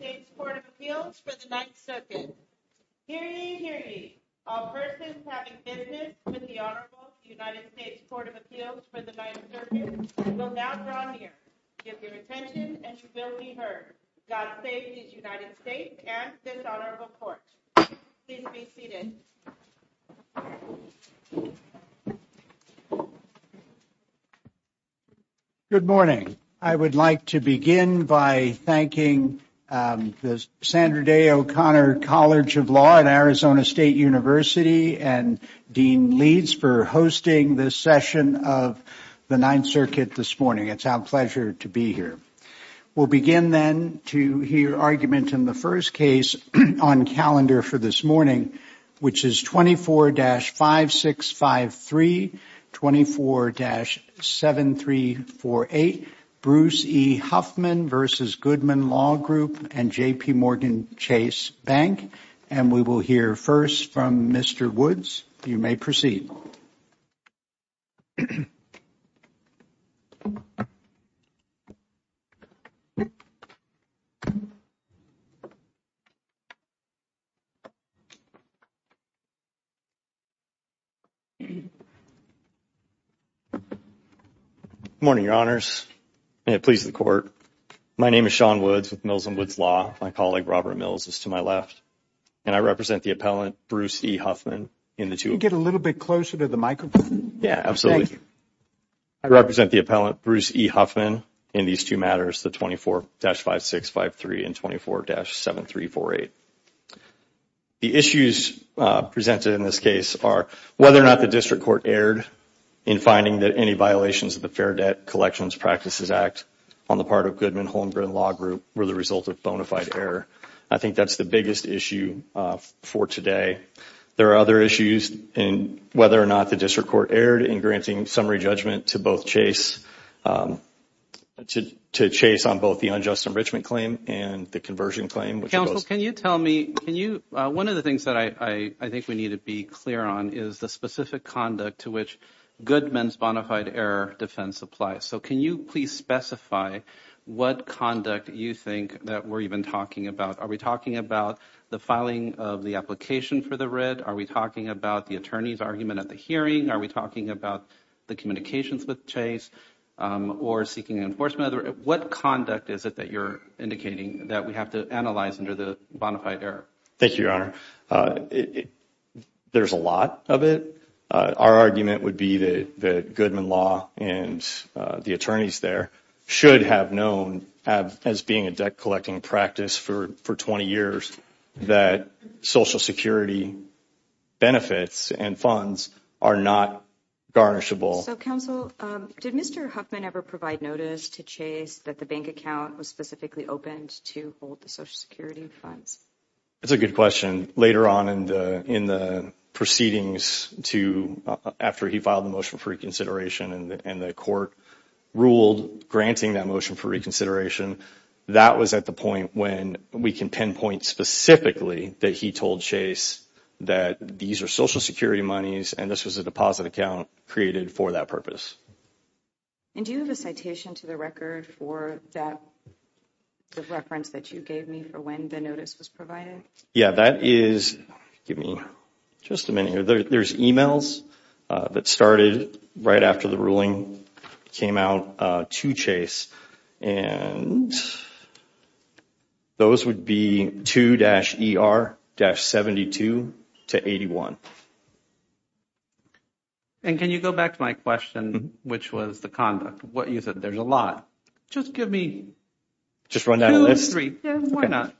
United States Court of Appeals for the Ninth Circuit. Hear ye, hear ye. All persons having business with the Honorable United States Court of Appeals for the Ninth Circuit, I will now draw near. Give your attention and you will be heard. God save these United States and this Honorable Court. Please be seated. Good morning. I would like to begin by thanking the Sandra Day O'Connor College of Law at Arizona State University and Dean Leeds for hosting this session of the Ninth Circuit this morning. It's our pleasure to be here. We'll begin then to hear argument in the first case on calendar for this morning, which is 24-5653, 24-7348, Bruce E. Huffman v. Goodman Law Group and JPMorgan Chase Bank. And we will hear first from Mr. Woods. You may proceed. Good morning, Your Honors, and it pleases the Court. My name is Sean Woods with Mills and Woods Law. My colleague, Robert Mills, is to my left. And I represent the appellant, Bruce E. Huffman. Could you get a little bit closer to the microphone? Yeah, absolutely. Thank you. I represent the appellant, Bruce E. Huffman, in these two matters, the 24-5653 and 24-7348. The issues presented in this case are whether or not the district court erred in finding that any violations of the Fair Debt Collections Practices Act on the part of Goodman, Holmgren Law Group were the result of bona fide error. I think that's the biggest issue for today. There are other issues in whether or not the district court erred in granting summary judgment to both Chase on both the unjust enrichment claim and the conversion claim. Counsel, can you tell me, one of the things that I think we need to be clear on is the specific conduct to which Goodman's bona fide error defense applies. So can you please specify what conduct you think that we're even talking about? Are we talking about the filing of the application for the writ? Are we talking about the attorney's argument at the hearing? Are we talking about the communications with Chase or seeking enforcement? What conduct is it that you're indicating that we have to analyze under the bona fide error? Thank you, Your Honor. There's a lot of it. Our argument would be that Goodman Law and the attorneys there should have known as being a debt-collecting practice for 20 years that Social Security benefits and funds are not garnishable. So, Counsel, did Mr. Huffman ever provide notice to Chase that the bank account was specifically opened to hold the Social Security funds? That's a good question. Later on in the proceedings after he filed the motion for reconsideration and the court ruled granting that motion for reconsideration, that was at the point when we can pinpoint specifically that he told Chase that these are Social Security monies and this was a deposit account created for that purpose. And do you have a citation to the record for that reference that you gave me for when the notice was provided? Yeah, that is – give me just a minute here. There's emails that started right after the ruling came out to Chase. And those would be 2-ER-72-81. And can you go back to my question, which was the conduct? You said there's a lot. Just give me two or three. Yeah, why not?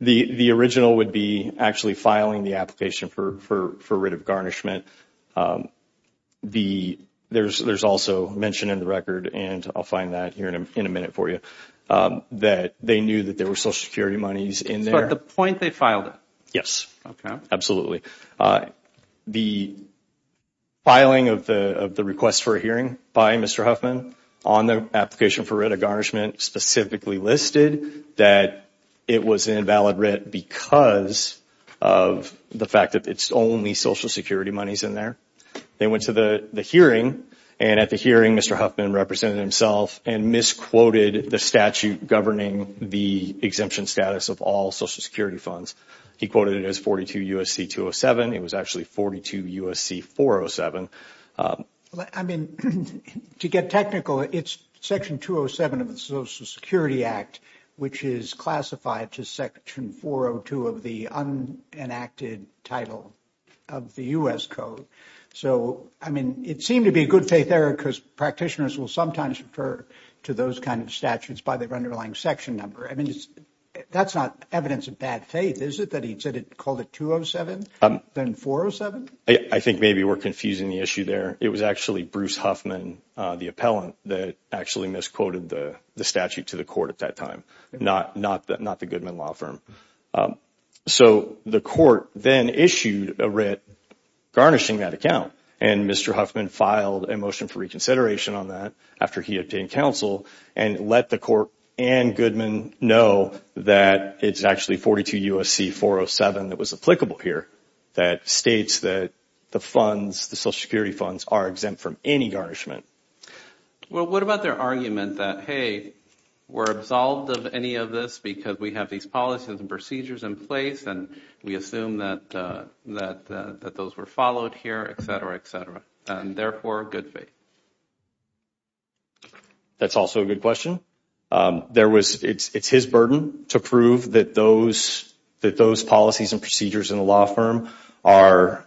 The original would be actually filing the application for writ of garnishment. There's also mentioned in the record, and I'll find that here in a minute for you, that they knew that there were Social Security monies in there. So at the point they filed it? Yes. Okay. Absolutely. The filing of the request for a hearing by Mr. Huffman on the application for writ of garnishment specifically listed that it was an invalid writ because of the fact that it's only Social Security monies in there. They went to the hearing, and at the hearing, Mr. Huffman represented himself and misquoted the statute governing the exemption status of all Social Security funds. He quoted it as 42 U.S.C. 207. It was actually 42 U.S.C. 407. I mean, to get technical, it's Section 207 of the Social Security Act, which is classified to Section 402 of the unenacted title of the U.S. Code. So, I mean, it seemed to be a good faith error because practitioners will sometimes refer to those kind of statutes by their underlying section number. I mean, that's not evidence of bad faith, is it, that he called it 207, then 407? I think maybe we're confusing the issue there. It was actually Bruce Huffman, the appellant, that actually misquoted the statute to the court at that time, not the Goodman Law Firm. So the court then issued a writ garnishing that account, and Mr. Huffman filed a motion for reconsideration on that after he obtained counsel and let the court and Goodman know that it's actually 42 U.S.C. 407 that was applicable here that states that the funds, the Social Security funds, are exempt from any garnishment. Well, what about their argument that, hey, we're absolved of any of this because we have these policies and procedures in place and we assume that those were followed here, et cetera, et cetera, and therefore good faith? That's also a good question. It's his burden to prove that those policies and procedures in a law firm are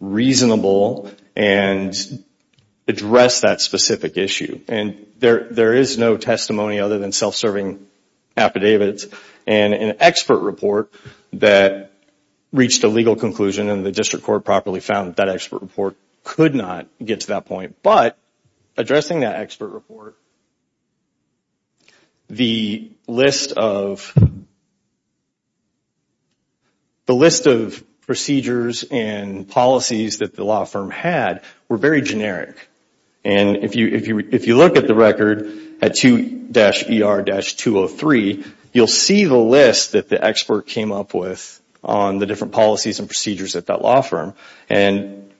reasonable and address that specific issue. And there is no testimony other than self-serving affidavits and an expert report that reached a legal conclusion and the district court properly found that that expert report could not get to that point. But addressing that expert report, the list of procedures and policies that the law firm had were very generic. And if you look at the record at 2-ER-203, you'll see the list that the expert came up with on the different policies and procedures at that law firm. And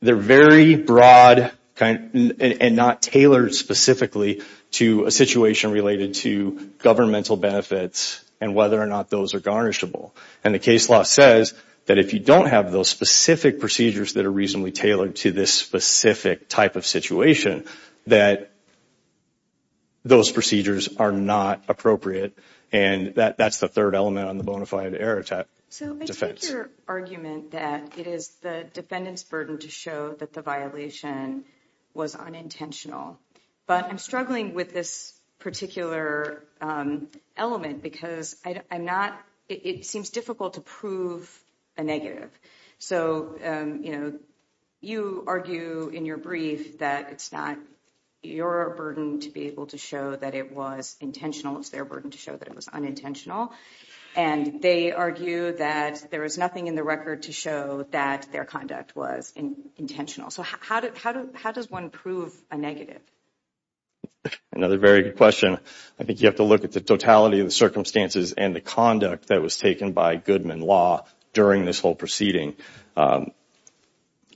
they're very broad and not tailored specifically to a situation related to governmental benefits and whether or not those are garnishable. And the case law says that if you don't have those specific procedures that are reasonably tailored to this specific type of situation, that those procedures are not appropriate. And that's the third element on the bona fide error type defense. I like your argument that it is the defendant's burden to show that the violation was unintentional. But I'm struggling with this particular element because it seems difficult to prove a negative. So, you know, you argue in your brief that it's not your burden to be able to show that it was intentional. It's their burden to show that it was unintentional. And they argue that there is nothing in the record to show that their conduct was intentional. So how does one prove a negative? Another very good question. I think you have to look at the totality of the circumstances and the conduct that was taken by Goodman Law during this whole proceeding.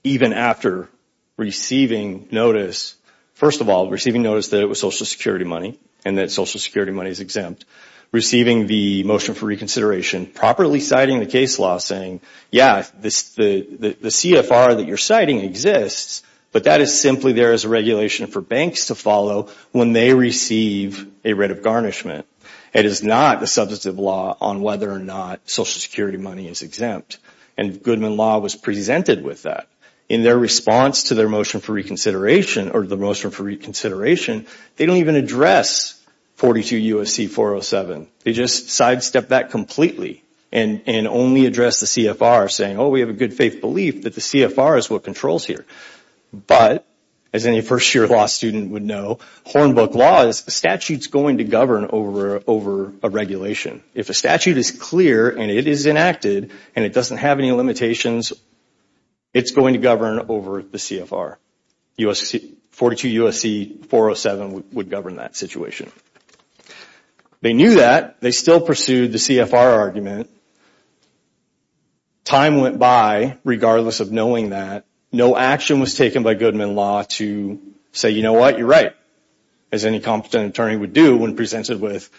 Even after receiving notice, first of all, receiving notice that it was Social Security money and that Social Security money is exempt, receiving the motion for reconsideration, properly citing the case law saying, yeah, the CFR that you're citing exists, but that is simply there as a regulation for banks to follow when they receive a writ of garnishment. It is not a substantive law on whether or not Social Security money is exempt. And Goodman Law was presented with that. In their response to their motion for reconsideration, or the motion for reconsideration, they don't even address 42 U.S.C. 407. They just sidestep that completely and only address the CFR saying, oh, we have a good faith belief that the CFR is what controls here. But, as any first-year law student would know, Hornbook Law's statute is going to govern over a regulation. If a statute is clear and it is enacted and it doesn't have any limitations, it's going to govern over the CFR, 42 U.S.C. 407 would govern that situation. They knew that. They still pursued the CFR argument. Time went by, regardless of knowing that. No action was taken by Goodman Law to say, you know what, you're right, as any competent attorney would do when presented with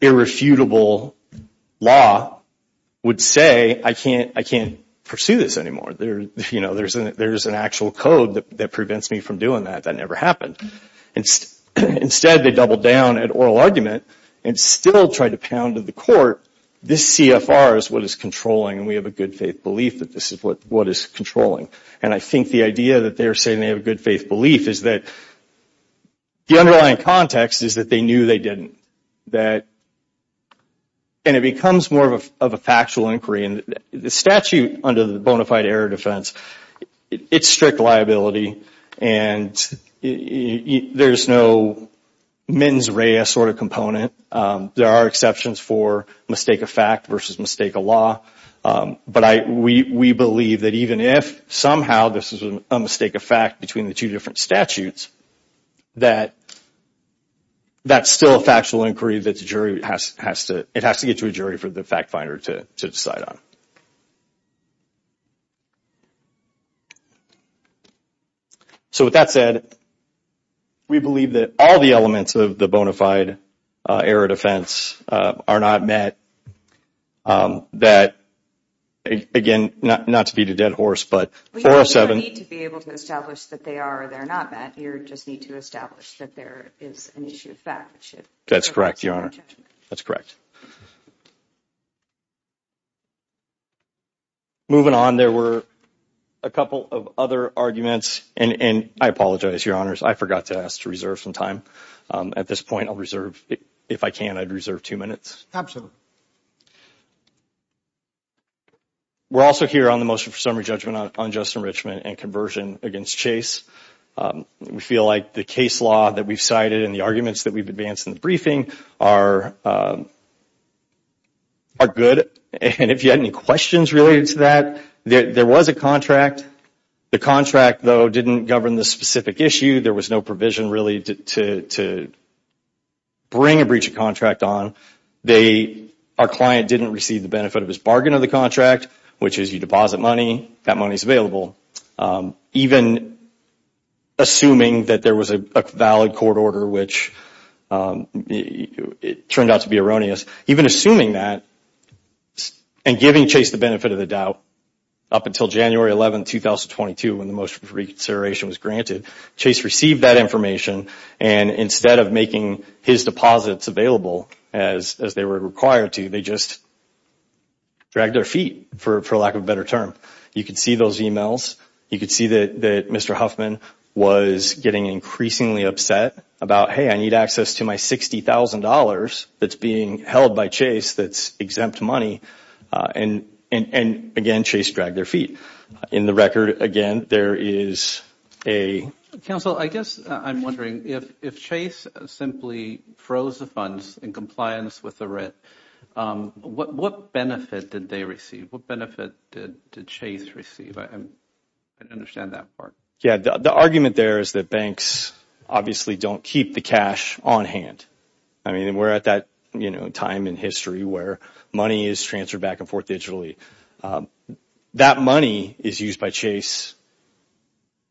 irrefutable law, would say, I can't pursue this anymore. There's an actual code that prevents me from doing that. That never happened. Instead, they doubled down at oral argument and still tried to pound to the court, this CFR is what is controlling and we have a good faith belief that this is what is controlling. And I think the idea that they're saying they have a good faith belief is that the underlying context is that they knew they didn't. And it becomes more of a factual inquiry. The statute under the bona fide error defense, it's strict liability and there's no mens rea sort of component. There are exceptions for mistake of fact versus mistake of law. But we believe that even if somehow this is a mistake of fact between the two different statutes, that that's still a factual inquiry that the jury has to, it has to get to a jury for the fact finder to decide on. So with that said, we believe that all the elements of the bona fide error defense are not met. That, again, not to beat a dead horse, but... You don't need to be able to establish that they are or they're not met. You just need to establish that there is an issue of fact. That's correct, Your Honor. That's correct. Moving on, there were a couple of other arguments. And I apologize, Your Honors. I forgot to ask to reserve some time. At this point, I'll reserve, if I can, I'd reserve two minutes. Absolutely. We're also here on the motion for summary judgment on unjust enrichment and conversion against Chase. We feel like the case law that we've cited and the arguments that we've advanced in the briefing are good. And if you had any questions related to that, there was a contract. The contract, though, didn't govern the specific issue. There was no provision really to bring a breach of contract on. Our client didn't receive the benefit of his bargain of the contract, which is you deposit money, that money is available. Even assuming that there was a valid court order, which turned out to be erroneous, even assuming that and giving Chase the benefit of the doubt up until January 11, 2022, when the motion for reconsideration was granted, Chase received that information. And instead of making his deposits available as they were required to, they just dragged their feet, for lack of a better term. You could see those e-mails. You could see that Mr. Huffman was getting increasingly upset about, hey, I need access to my $60,000 that's being held by Chase that's exempt money. And, again, Chase dragged their feet. In the record, again, there is a— Counsel, I guess I'm wondering, if Chase simply froze the funds in compliance with the writ, what benefit did they receive? What benefit did Chase receive? I don't understand that part. Yeah, the argument there is that banks obviously don't keep the cash on hand. I mean, we're at that time in history where money is transferred back and forth digitally. That money is used by Chase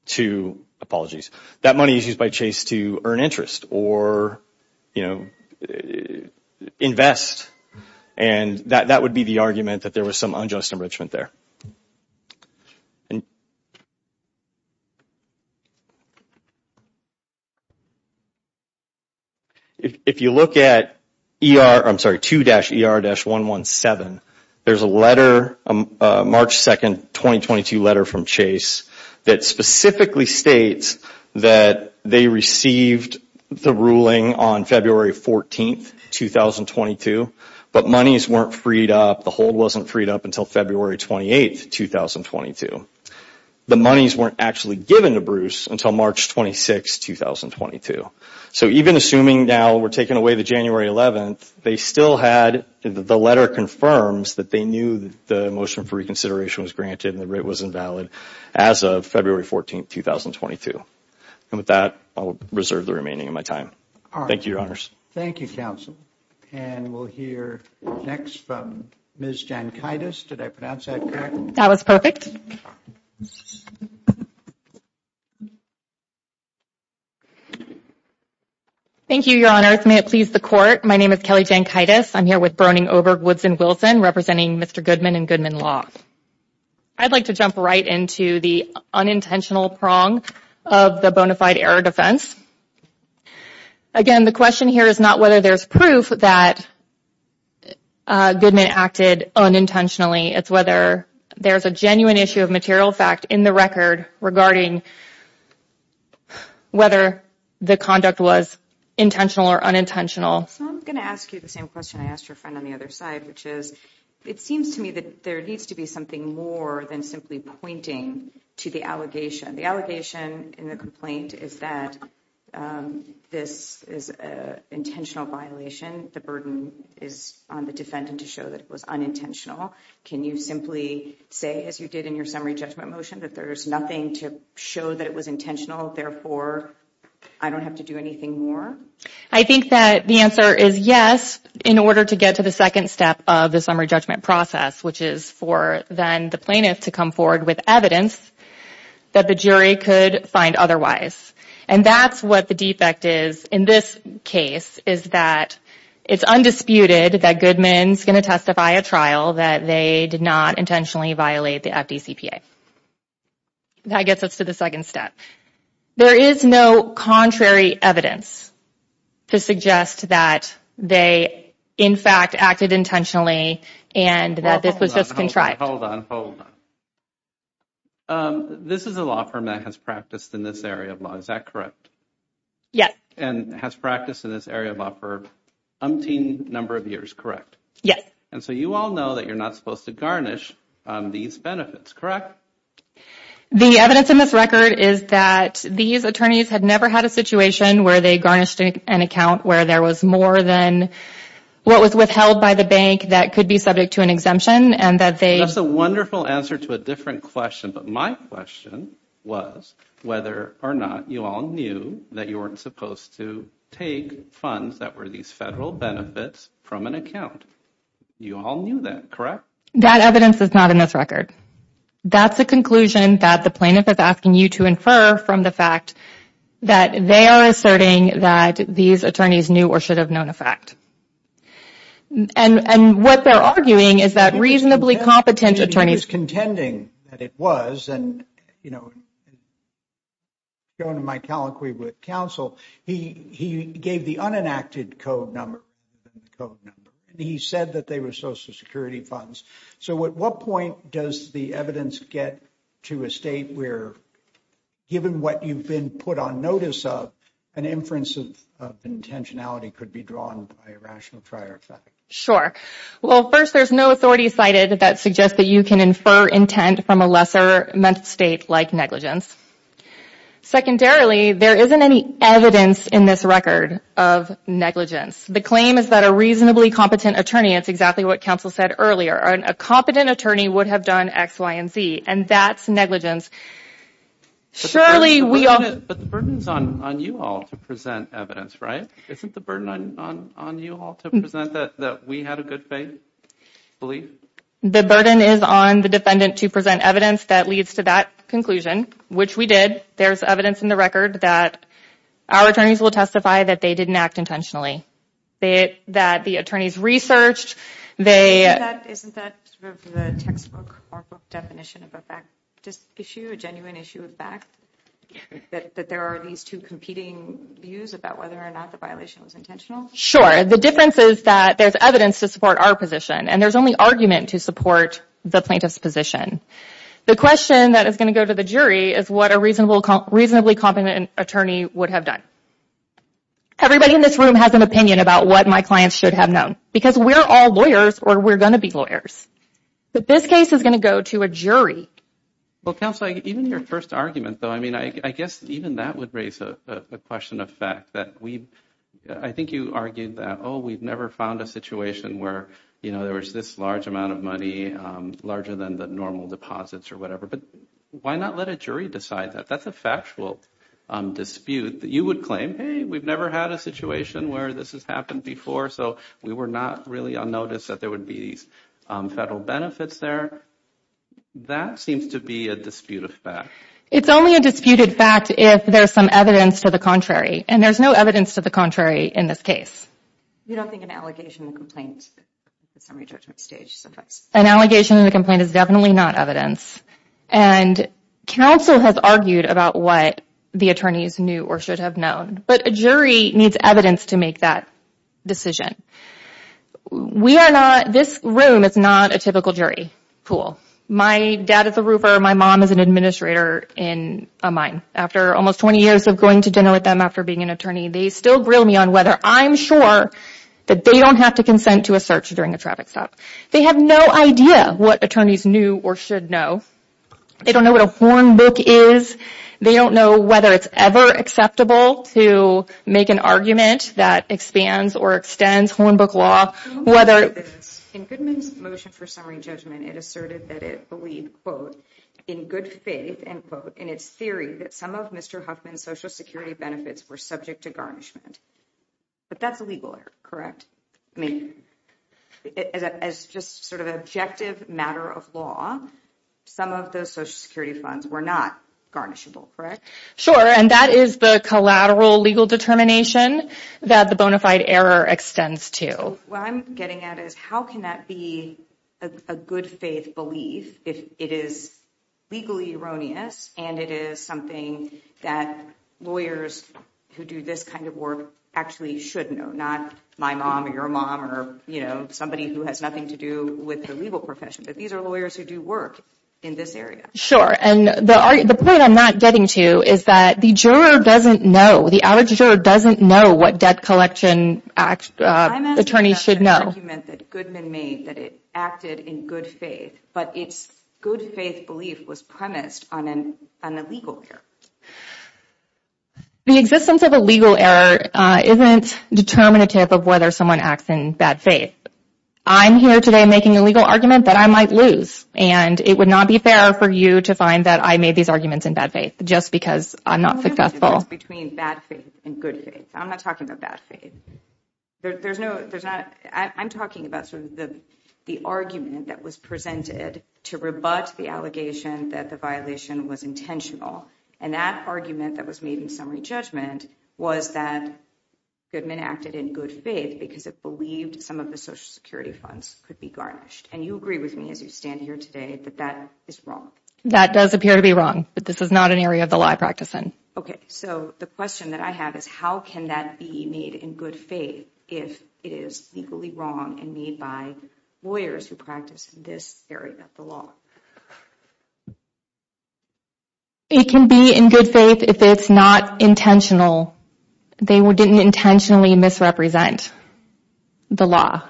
to—apologies. That money is used by Chase to earn interest or invest. And that would be the argument that there was some unjust enrichment there. If you look at 2-ER-117, there's a letter, a March 2, 2022 letter from Chase, that specifically states that they received the ruling on February 14, 2022, but monies weren't freed up, the hold wasn't freed up until February 28, 2022. The monies weren't actually given to Bruce until March 26, 2022. So even assuming now we're taking away the January 11th, they still had—the letter confirms that they knew the motion for reconsideration was granted and the rate was invalid as of February 14, 2022. And with that, I'll reserve the remaining of my time. Thank you, Your Honors. Thank you, Counsel. And we'll hear next from Ms. Jankaitis. Did I pronounce that correctly? That was perfect. Thank you, Your Honors. May it please the Court. My name is Kelly Jankaitis. I'm here with Broning, Oberg, Woods, and Wilson representing Mr. Goodman and Goodman Law. I'd like to jump right into the unintentional prong of the bona fide error defense. Again, the question here is not whether there's proof that Goodman acted unintentionally. It's whether there's a genuine issue of material fact in the record regarding whether the conduct was intentional or unintentional. So I'm going to ask you the same question I asked your friend on the other side, which is it seems to me that there needs to be something more than simply pointing to the allegation. The allegation in the complaint is that this is an intentional violation. The burden is on the defendant to show that it was unintentional. Can you simply say, as you did in your summary judgment motion, that there's nothing to show that it was intentional, therefore I don't have to do anything more? I think that the answer is yes, in order to get to the second step of the summary judgment process, which is for then the plaintiff to come forward with evidence that the jury could find otherwise. And that's what the defect is in this case, is that it's undisputed that Goodman's going to testify at trial that they did not intentionally violate the FDCPA. That gets us to the second step. There is no contrary evidence to suggest that they, in fact, acted intentionally and that this was just contrived. Hold on, hold on. This is a law firm that has practiced in this area of law, is that correct? Yes. And has practiced in this area of law for umpteen number of years, correct? Yes. And so you all know that you're not supposed to garnish these benefits, correct? The evidence in this record is that these attorneys had never had a situation where they garnished an account where there was more than what was withheld by the bank that could be subject to an exemption. That's a wonderful answer to a different question, but my question was whether or not you all knew that you weren't supposed to take funds that were these federal benefits from an account. You all knew that, correct? That evidence is not in this record. That's a conclusion that the plaintiff is asking you to infer from the fact that they are asserting that these attorneys knew or should have known a fact. And what they're arguing is that reasonably competent attorneys He was contending that it was and, you know, going to my telequay with counsel, he gave the unenacted code number. He said that they were Social Security funds. So at what point does the evidence get to a state where, given what you've been put on notice of, an inference of intentionality could be drawn by a rational trier effect? Sure. Well, first, there's no authority cited that suggests that you can infer intent from a lesser mental state like negligence. Secondarily, there isn't any evidence in this record of negligence. The claim is that a reasonably competent attorney, it's exactly what counsel said earlier, a competent attorney would have done X, Y, and Z. And that's negligence. Surely we all... But the burden is on you all to present evidence, right? Isn't the burden on you all to present that we had a good faith belief? The burden is on the defendant to present evidence that leads to that conclusion, which we did. There's evidence in the record that our attorneys will testify that they didn't act intentionally, that the attorneys researched, they... Isn't that sort of the textbook or book definition of a fact issue, a genuine issue of fact, that there are these two competing views about whether or not the violation was intentional? Sure. The difference is that there's evidence to support our position, and there's only argument to support the plaintiff's position. The question that is going to go to the jury is what a reasonably competent attorney would have done. Everybody in this room has an opinion about what my clients should have known, because we're all lawyers or we're going to be lawyers. But this case is going to go to a jury. Well, counsel, even your first argument, though, I mean, I guess even that would raise a question of fact, that we've... I think you argued that, oh, we've never found a situation where, you know, there was this large amount of money, larger than the normal deposits or whatever, but why not let a jury decide that? That's a factual dispute that you would claim. Hey, we've never had a situation where this has happened before, so we were not really unnoticed that there would be these federal benefits there. That seems to be a dispute of fact. It's only a disputed fact if there's some evidence to the contrary, and there's no evidence to the contrary in this case. You don't think an allegation and a complaint is on your judgment stage sometimes? An allegation and a complaint is definitely not evidence, and counsel has argued about what the attorneys knew or should have known, but a jury needs evidence to make that decision. We are not...this room is not a typical jury pool. My dad is a roofer, my mom is an administrator in a mine. After almost 20 years of going to dinner with them after being an attorney, they still grill me on whether I'm sure that they don't have to consent to a search during a traffic stop. They have no idea what attorneys knew or should know. They don't know what a horn book is. They don't know whether it's ever acceptable to make an argument that expands or extends horn book law. In Goodman's motion for summary judgment, it asserted that it believed, quote, in its theory that some of Mr. Huffman's Social Security benefits were subject to garnishment. But that's illegal, correct? I mean, as just sort of an objective matter of law, some of those Social Security funds were not garnishable, correct? Sure, and that is the collateral legal determination that the bona fide error extends to. So what I'm getting at is how can that be a good faith belief if it is legally erroneous and it is something that lawyers who do this kind of work actually should know, not my mom or your mom or, you know, somebody who has nothing to do with the legal profession. But these are lawyers who do work in this area. Sure, and the point I'm not getting to is that the juror doesn't know, the average juror doesn't know what debt collection attorneys should know. I'm asking about the argument that Goodman made that it acted in good faith, but its good faith belief was premised on an illegal error. The existence of a legal error isn't determinative of whether someone acts in bad faith. I'm here today making a legal argument that I might lose, and it would not be fair for you to find that I made these arguments in bad faith just because I'm not successful. The difference between bad faith and good faith, I'm not talking about bad faith. I'm talking about sort of the argument that was presented to rebut the allegation that the violation was intentional. And that argument that was made in summary judgment was that Goodman acted in good faith because it believed some of the Social Security funds could be garnished. And you agree with me as you stand here today that that is wrong. That does appear to be wrong, but this is not an area of the law I practice in. Okay, so the question that I have is how can that be made in good faith if it is legally wrong and made by lawyers who practice this area of the law? It can be in good faith if it's not intentional. They didn't intentionally misrepresent the law.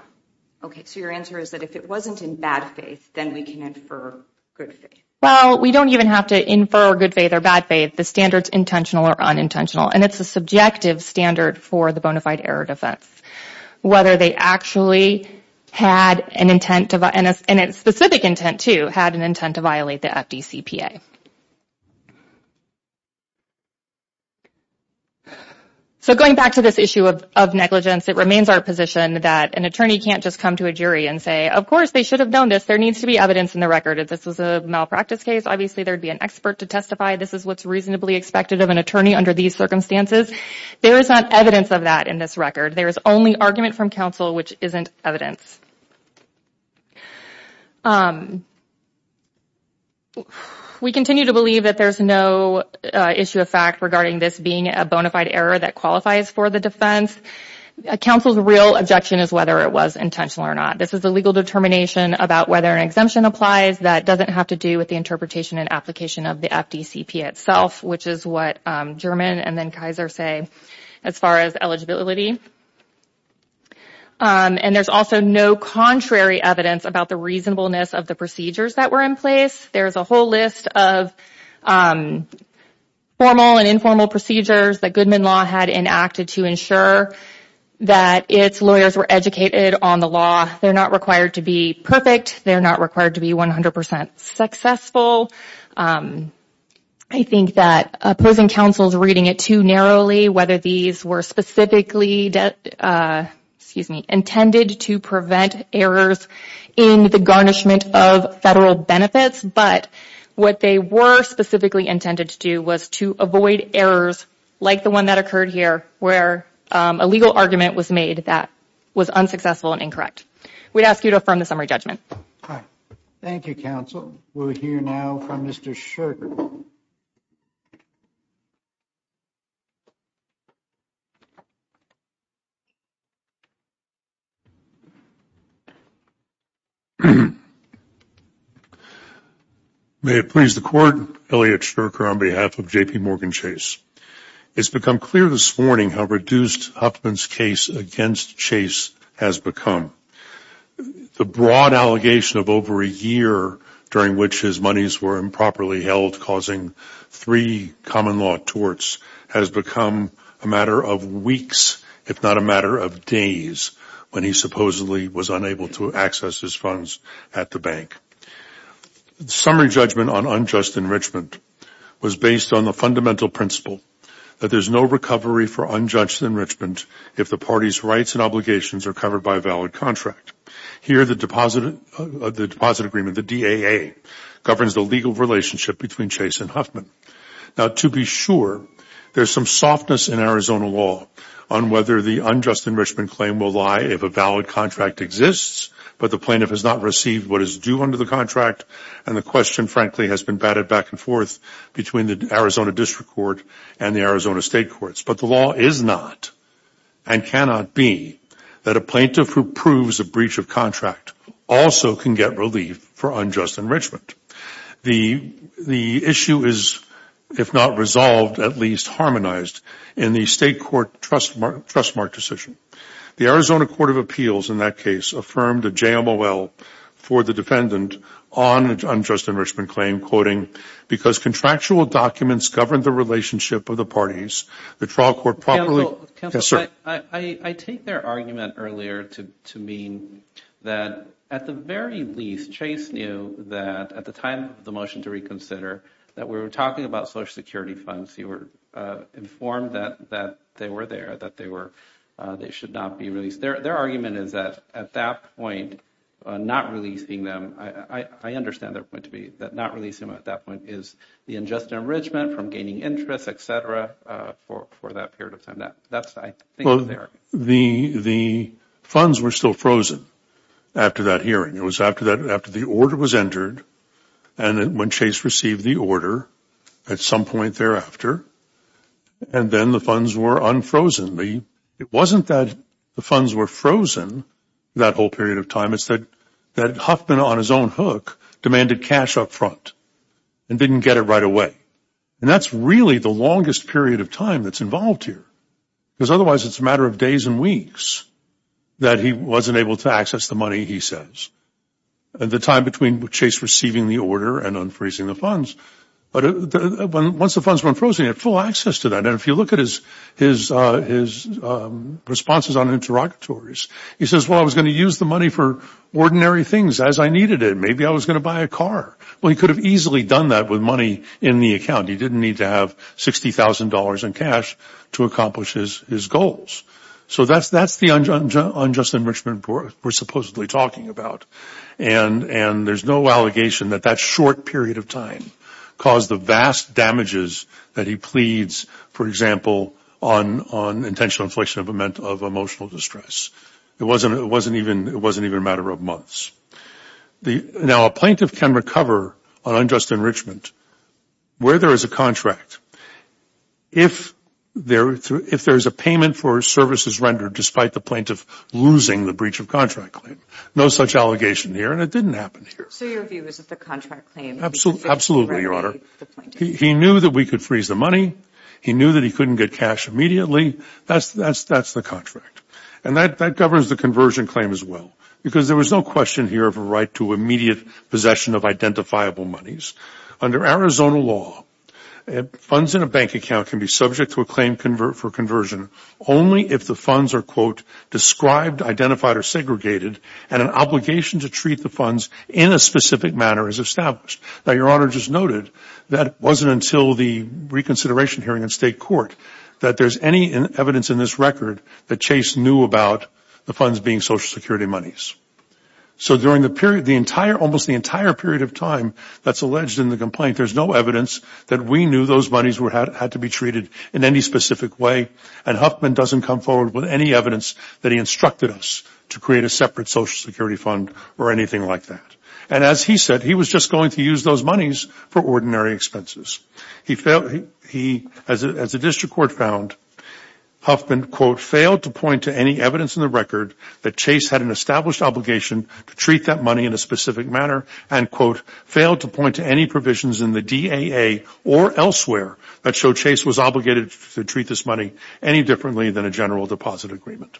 Okay, so your answer is that if it wasn't in bad faith, then we can infer good faith. Well, we don't even have to infer good faith or bad faith. The standard's intentional or unintentional, and it's a subjective standard for the bona fide error defense. Whether they actually had an intent to, and a specific intent to, had an intent to violate the FDCPA. So going back to this issue of negligence, it remains our position that an attorney can't just come to a jury and say, of course, they should have known this. There needs to be evidence in the record. If this was a malpractice case, obviously there would be an expert to testify. This is what's reasonably expected of an attorney under these circumstances. There is not evidence of that in this record. There is only argument from counsel which isn't evidence. We continue to believe that there's no issue of fact regarding this being a bona fide error that qualifies for the defense. Counsel's real objection is whether it was intentional or not. This is a legal determination about whether an exemption applies. That doesn't have to do with the interpretation and application of the FDCPA itself, which is what German and then Kaiser say as far as eligibility. And there's also no contrary evidence about the reasonableness of the procedures that were in place. There's a whole list of formal and informal procedures that Goodman Law had enacted to ensure that its lawyers were educated on the law. They're not required to be perfect. They're not required to be 100% successful. I think that opposing counsel's reading it too narrowly, whether these were specifically intended to prevent errors in the garnishment of federal benefits, but what they were specifically intended to do was to avoid errors like the one that occurred here, where a legal argument was made that was unsuccessful and incorrect. We'd ask you to affirm the summary judgment. Thank you, counsel. We'll hear now from Mr. Shurker. May it please the Court, Elliot Shurker on behalf of JPMorgan Chase. It's become clear this morning how reduced Huffman's case against Chase has become. The broad allegation of over a year during which his monies were improperly held, causing three common law torts, has become a matter of weeks, if not a matter of days, when he supposedly was unable to access his funds at the bank. The summary judgment on unjust enrichment was based on the fundamental principle that there's no recovery for unjust enrichment if the party's rights and obligations are covered by a valid contract. Here, the deposit agreement, the DAA, governs the legal relationship between Chase and Huffman. Now, to be sure, there's some softness in Arizona law on whether the unjust enrichment claim will lie if a valid contract exists, but the plaintiff has not received what is due under the contract, and the question, frankly, has been batted back and forth between the Arizona district court and the Arizona state courts. But the law is not, and cannot be, that a plaintiff who proves a breach of contract also can get relief for unjust enrichment. The issue is, if not resolved, at least harmonized in the state court trust mark decision. The Arizona court of appeals, in that case, affirmed a JMOL for the defendant on unjust enrichment claim, quoting, because contractual documents govern the relationship of the parties, the trial court properly I take their argument earlier to mean that, at the very least, Chase knew that, at the time of the motion to reconsider, that we were talking about Social Security funds. You were informed that they were there, that they should not be released. Their argument is that, at that point, not releasing them, I understand their point to be, that not releasing them at that point is the unjust enrichment from gaining interest, et cetera, for that period of time. The funds were still frozen after that hearing. It was after the order was entered and when Chase received the order, at some point thereafter, and then the funds were unfrozen. It wasn't that the funds were frozen that whole period of time. It's that Huffman, on his own hook, demanded cash up front and didn't get it right away. And that's really the longest period of time that's involved here. Because otherwise, it's a matter of days and weeks that he wasn't able to access the money, he says, at the time between Chase receiving the order and unfreezing the funds. But once the funds were unfrozen, he had full access to that. And if you look at his responses on interrogatories, he says, well, I was going to use the money for ordinary things as I needed it. Maybe I was going to buy a car. Well, he could have easily done that with money in the account. He didn't need to have $60,000 in cash to accomplish his goals. So that's the unjust enrichment we're supposedly talking about. And there's no allegation that that short period of time caused the vast damages that he pleads, for example, on intentional infliction of emotional distress. It wasn't even a matter of months. Now, a plaintiff can recover on unjust enrichment. Where there is a contract, if there is a payment for services rendered, despite the plaintiff losing the breach of contract claim, no such allegation here. And it didn't happen here. So your view is that the contract claim. Absolutely, Your Honor. He knew that we could freeze the money. He knew that he couldn't get cash immediately. That's the contract. And that governs the conversion claim as well. Because there was no question here of a right to immediate possession of identifiable monies. Under Arizona law, funds in a bank account can be subject to a claim for conversion only if the funds are, quote, described, identified, or segregated, and an obligation to treat the funds in a specific manner is established. Now, Your Honor just noted that it wasn't until the reconsideration hearing in state court that there's any evidence in this record that Chase knew about the funds being Social Security monies. So during almost the entire period of time that's alleged in the complaint, there's no evidence that we knew those monies had to be treated in any specific way, and Huffman doesn't come forward with any evidence that he instructed us to create a separate Social Security fund or anything like that. And as he said, he was just going to use those monies for ordinary expenses. As the district court found, Huffman, quote, failed to point to any evidence in the record that Chase had an established obligation to treat that money in a specific manner, and, quote, failed to point to any provisions in the DAA or elsewhere that show Chase was obligated to treat this money any differently than a general deposit agreement.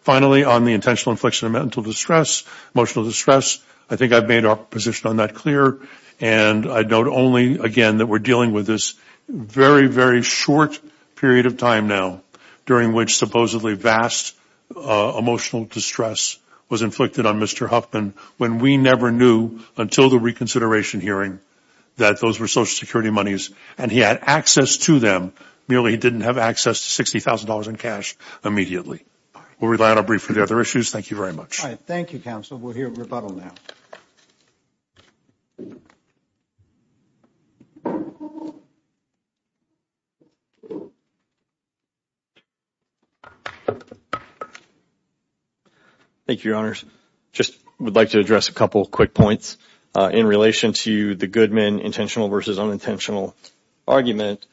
Finally, on the intentional infliction of mental distress, emotional distress, I think I've made our position on that clear, and I'd note only, again, that we're dealing with this very, very short period of time now during which supposedly vast emotional distress was inflicted on Mr. Huffman when we never knew until the reconsideration hearing that those were Social Security monies and he had access to them, merely he didn't have access to $60,000 in cash immediately. We'll rely on a brief for the other issues. Thank you very much. All right. Thank you, Counsel. We'll hear rebuttal now. Thank you, Your Honors. Just would like to address a couple of quick points in relation to the Goodman intentional versus unintentional argument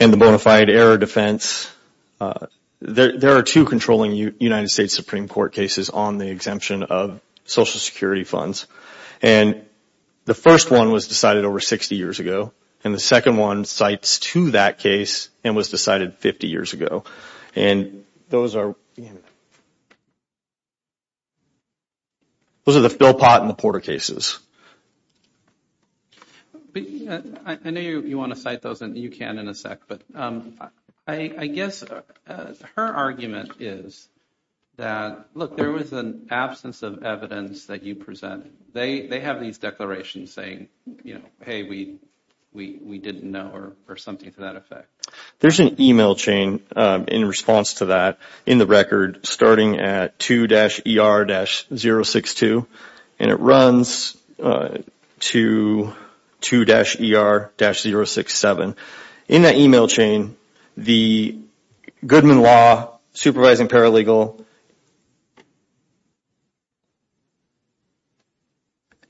and the bona fide error defense. There are two controlling United States Supreme Court cases on the exemption of Social Security funds, and the first one was decided over 60 years ago, and the second one cites to that case and was decided 50 years ago, and those are the Philpott and the Porter cases. I know you want to cite those, and you can in a sec, but I guess her argument is that, look, there was an absence of evidence that you presented. They have these declarations saying, hey, we didn't know or something to that effect. There's an email chain in response to that in the record starting at 2-ER-062, and it runs to 2-ER-067. In that email chain, the Goodman Law Supervising Paralegal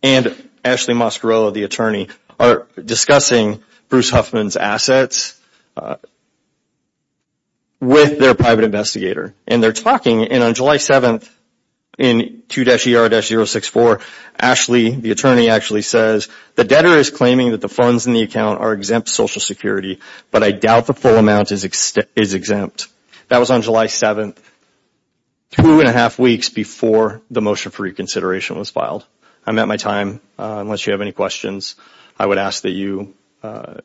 and Ashley Mosquerello, the attorney, are discussing Bruce Huffman's assets with their private investigator, and they're talking, and on July 7th in 2-ER-064, Ashley, the attorney, actually says, the debtor is claiming that the funds in the account are exempt Social Security, but I doubt the full amount is exempt. That was on July 7th, two and a half weeks before the motion for reconsideration was filed. I'm at my time. Unless you have any questions, I would ask that you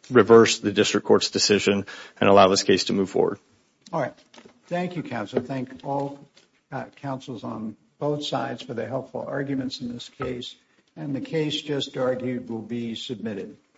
reverse the district court's decision and allow this case to move forward. All right. Thank you, counsel. Thank all counsels on both sides for their helpful arguments in this case, and the case just argued will be submitted.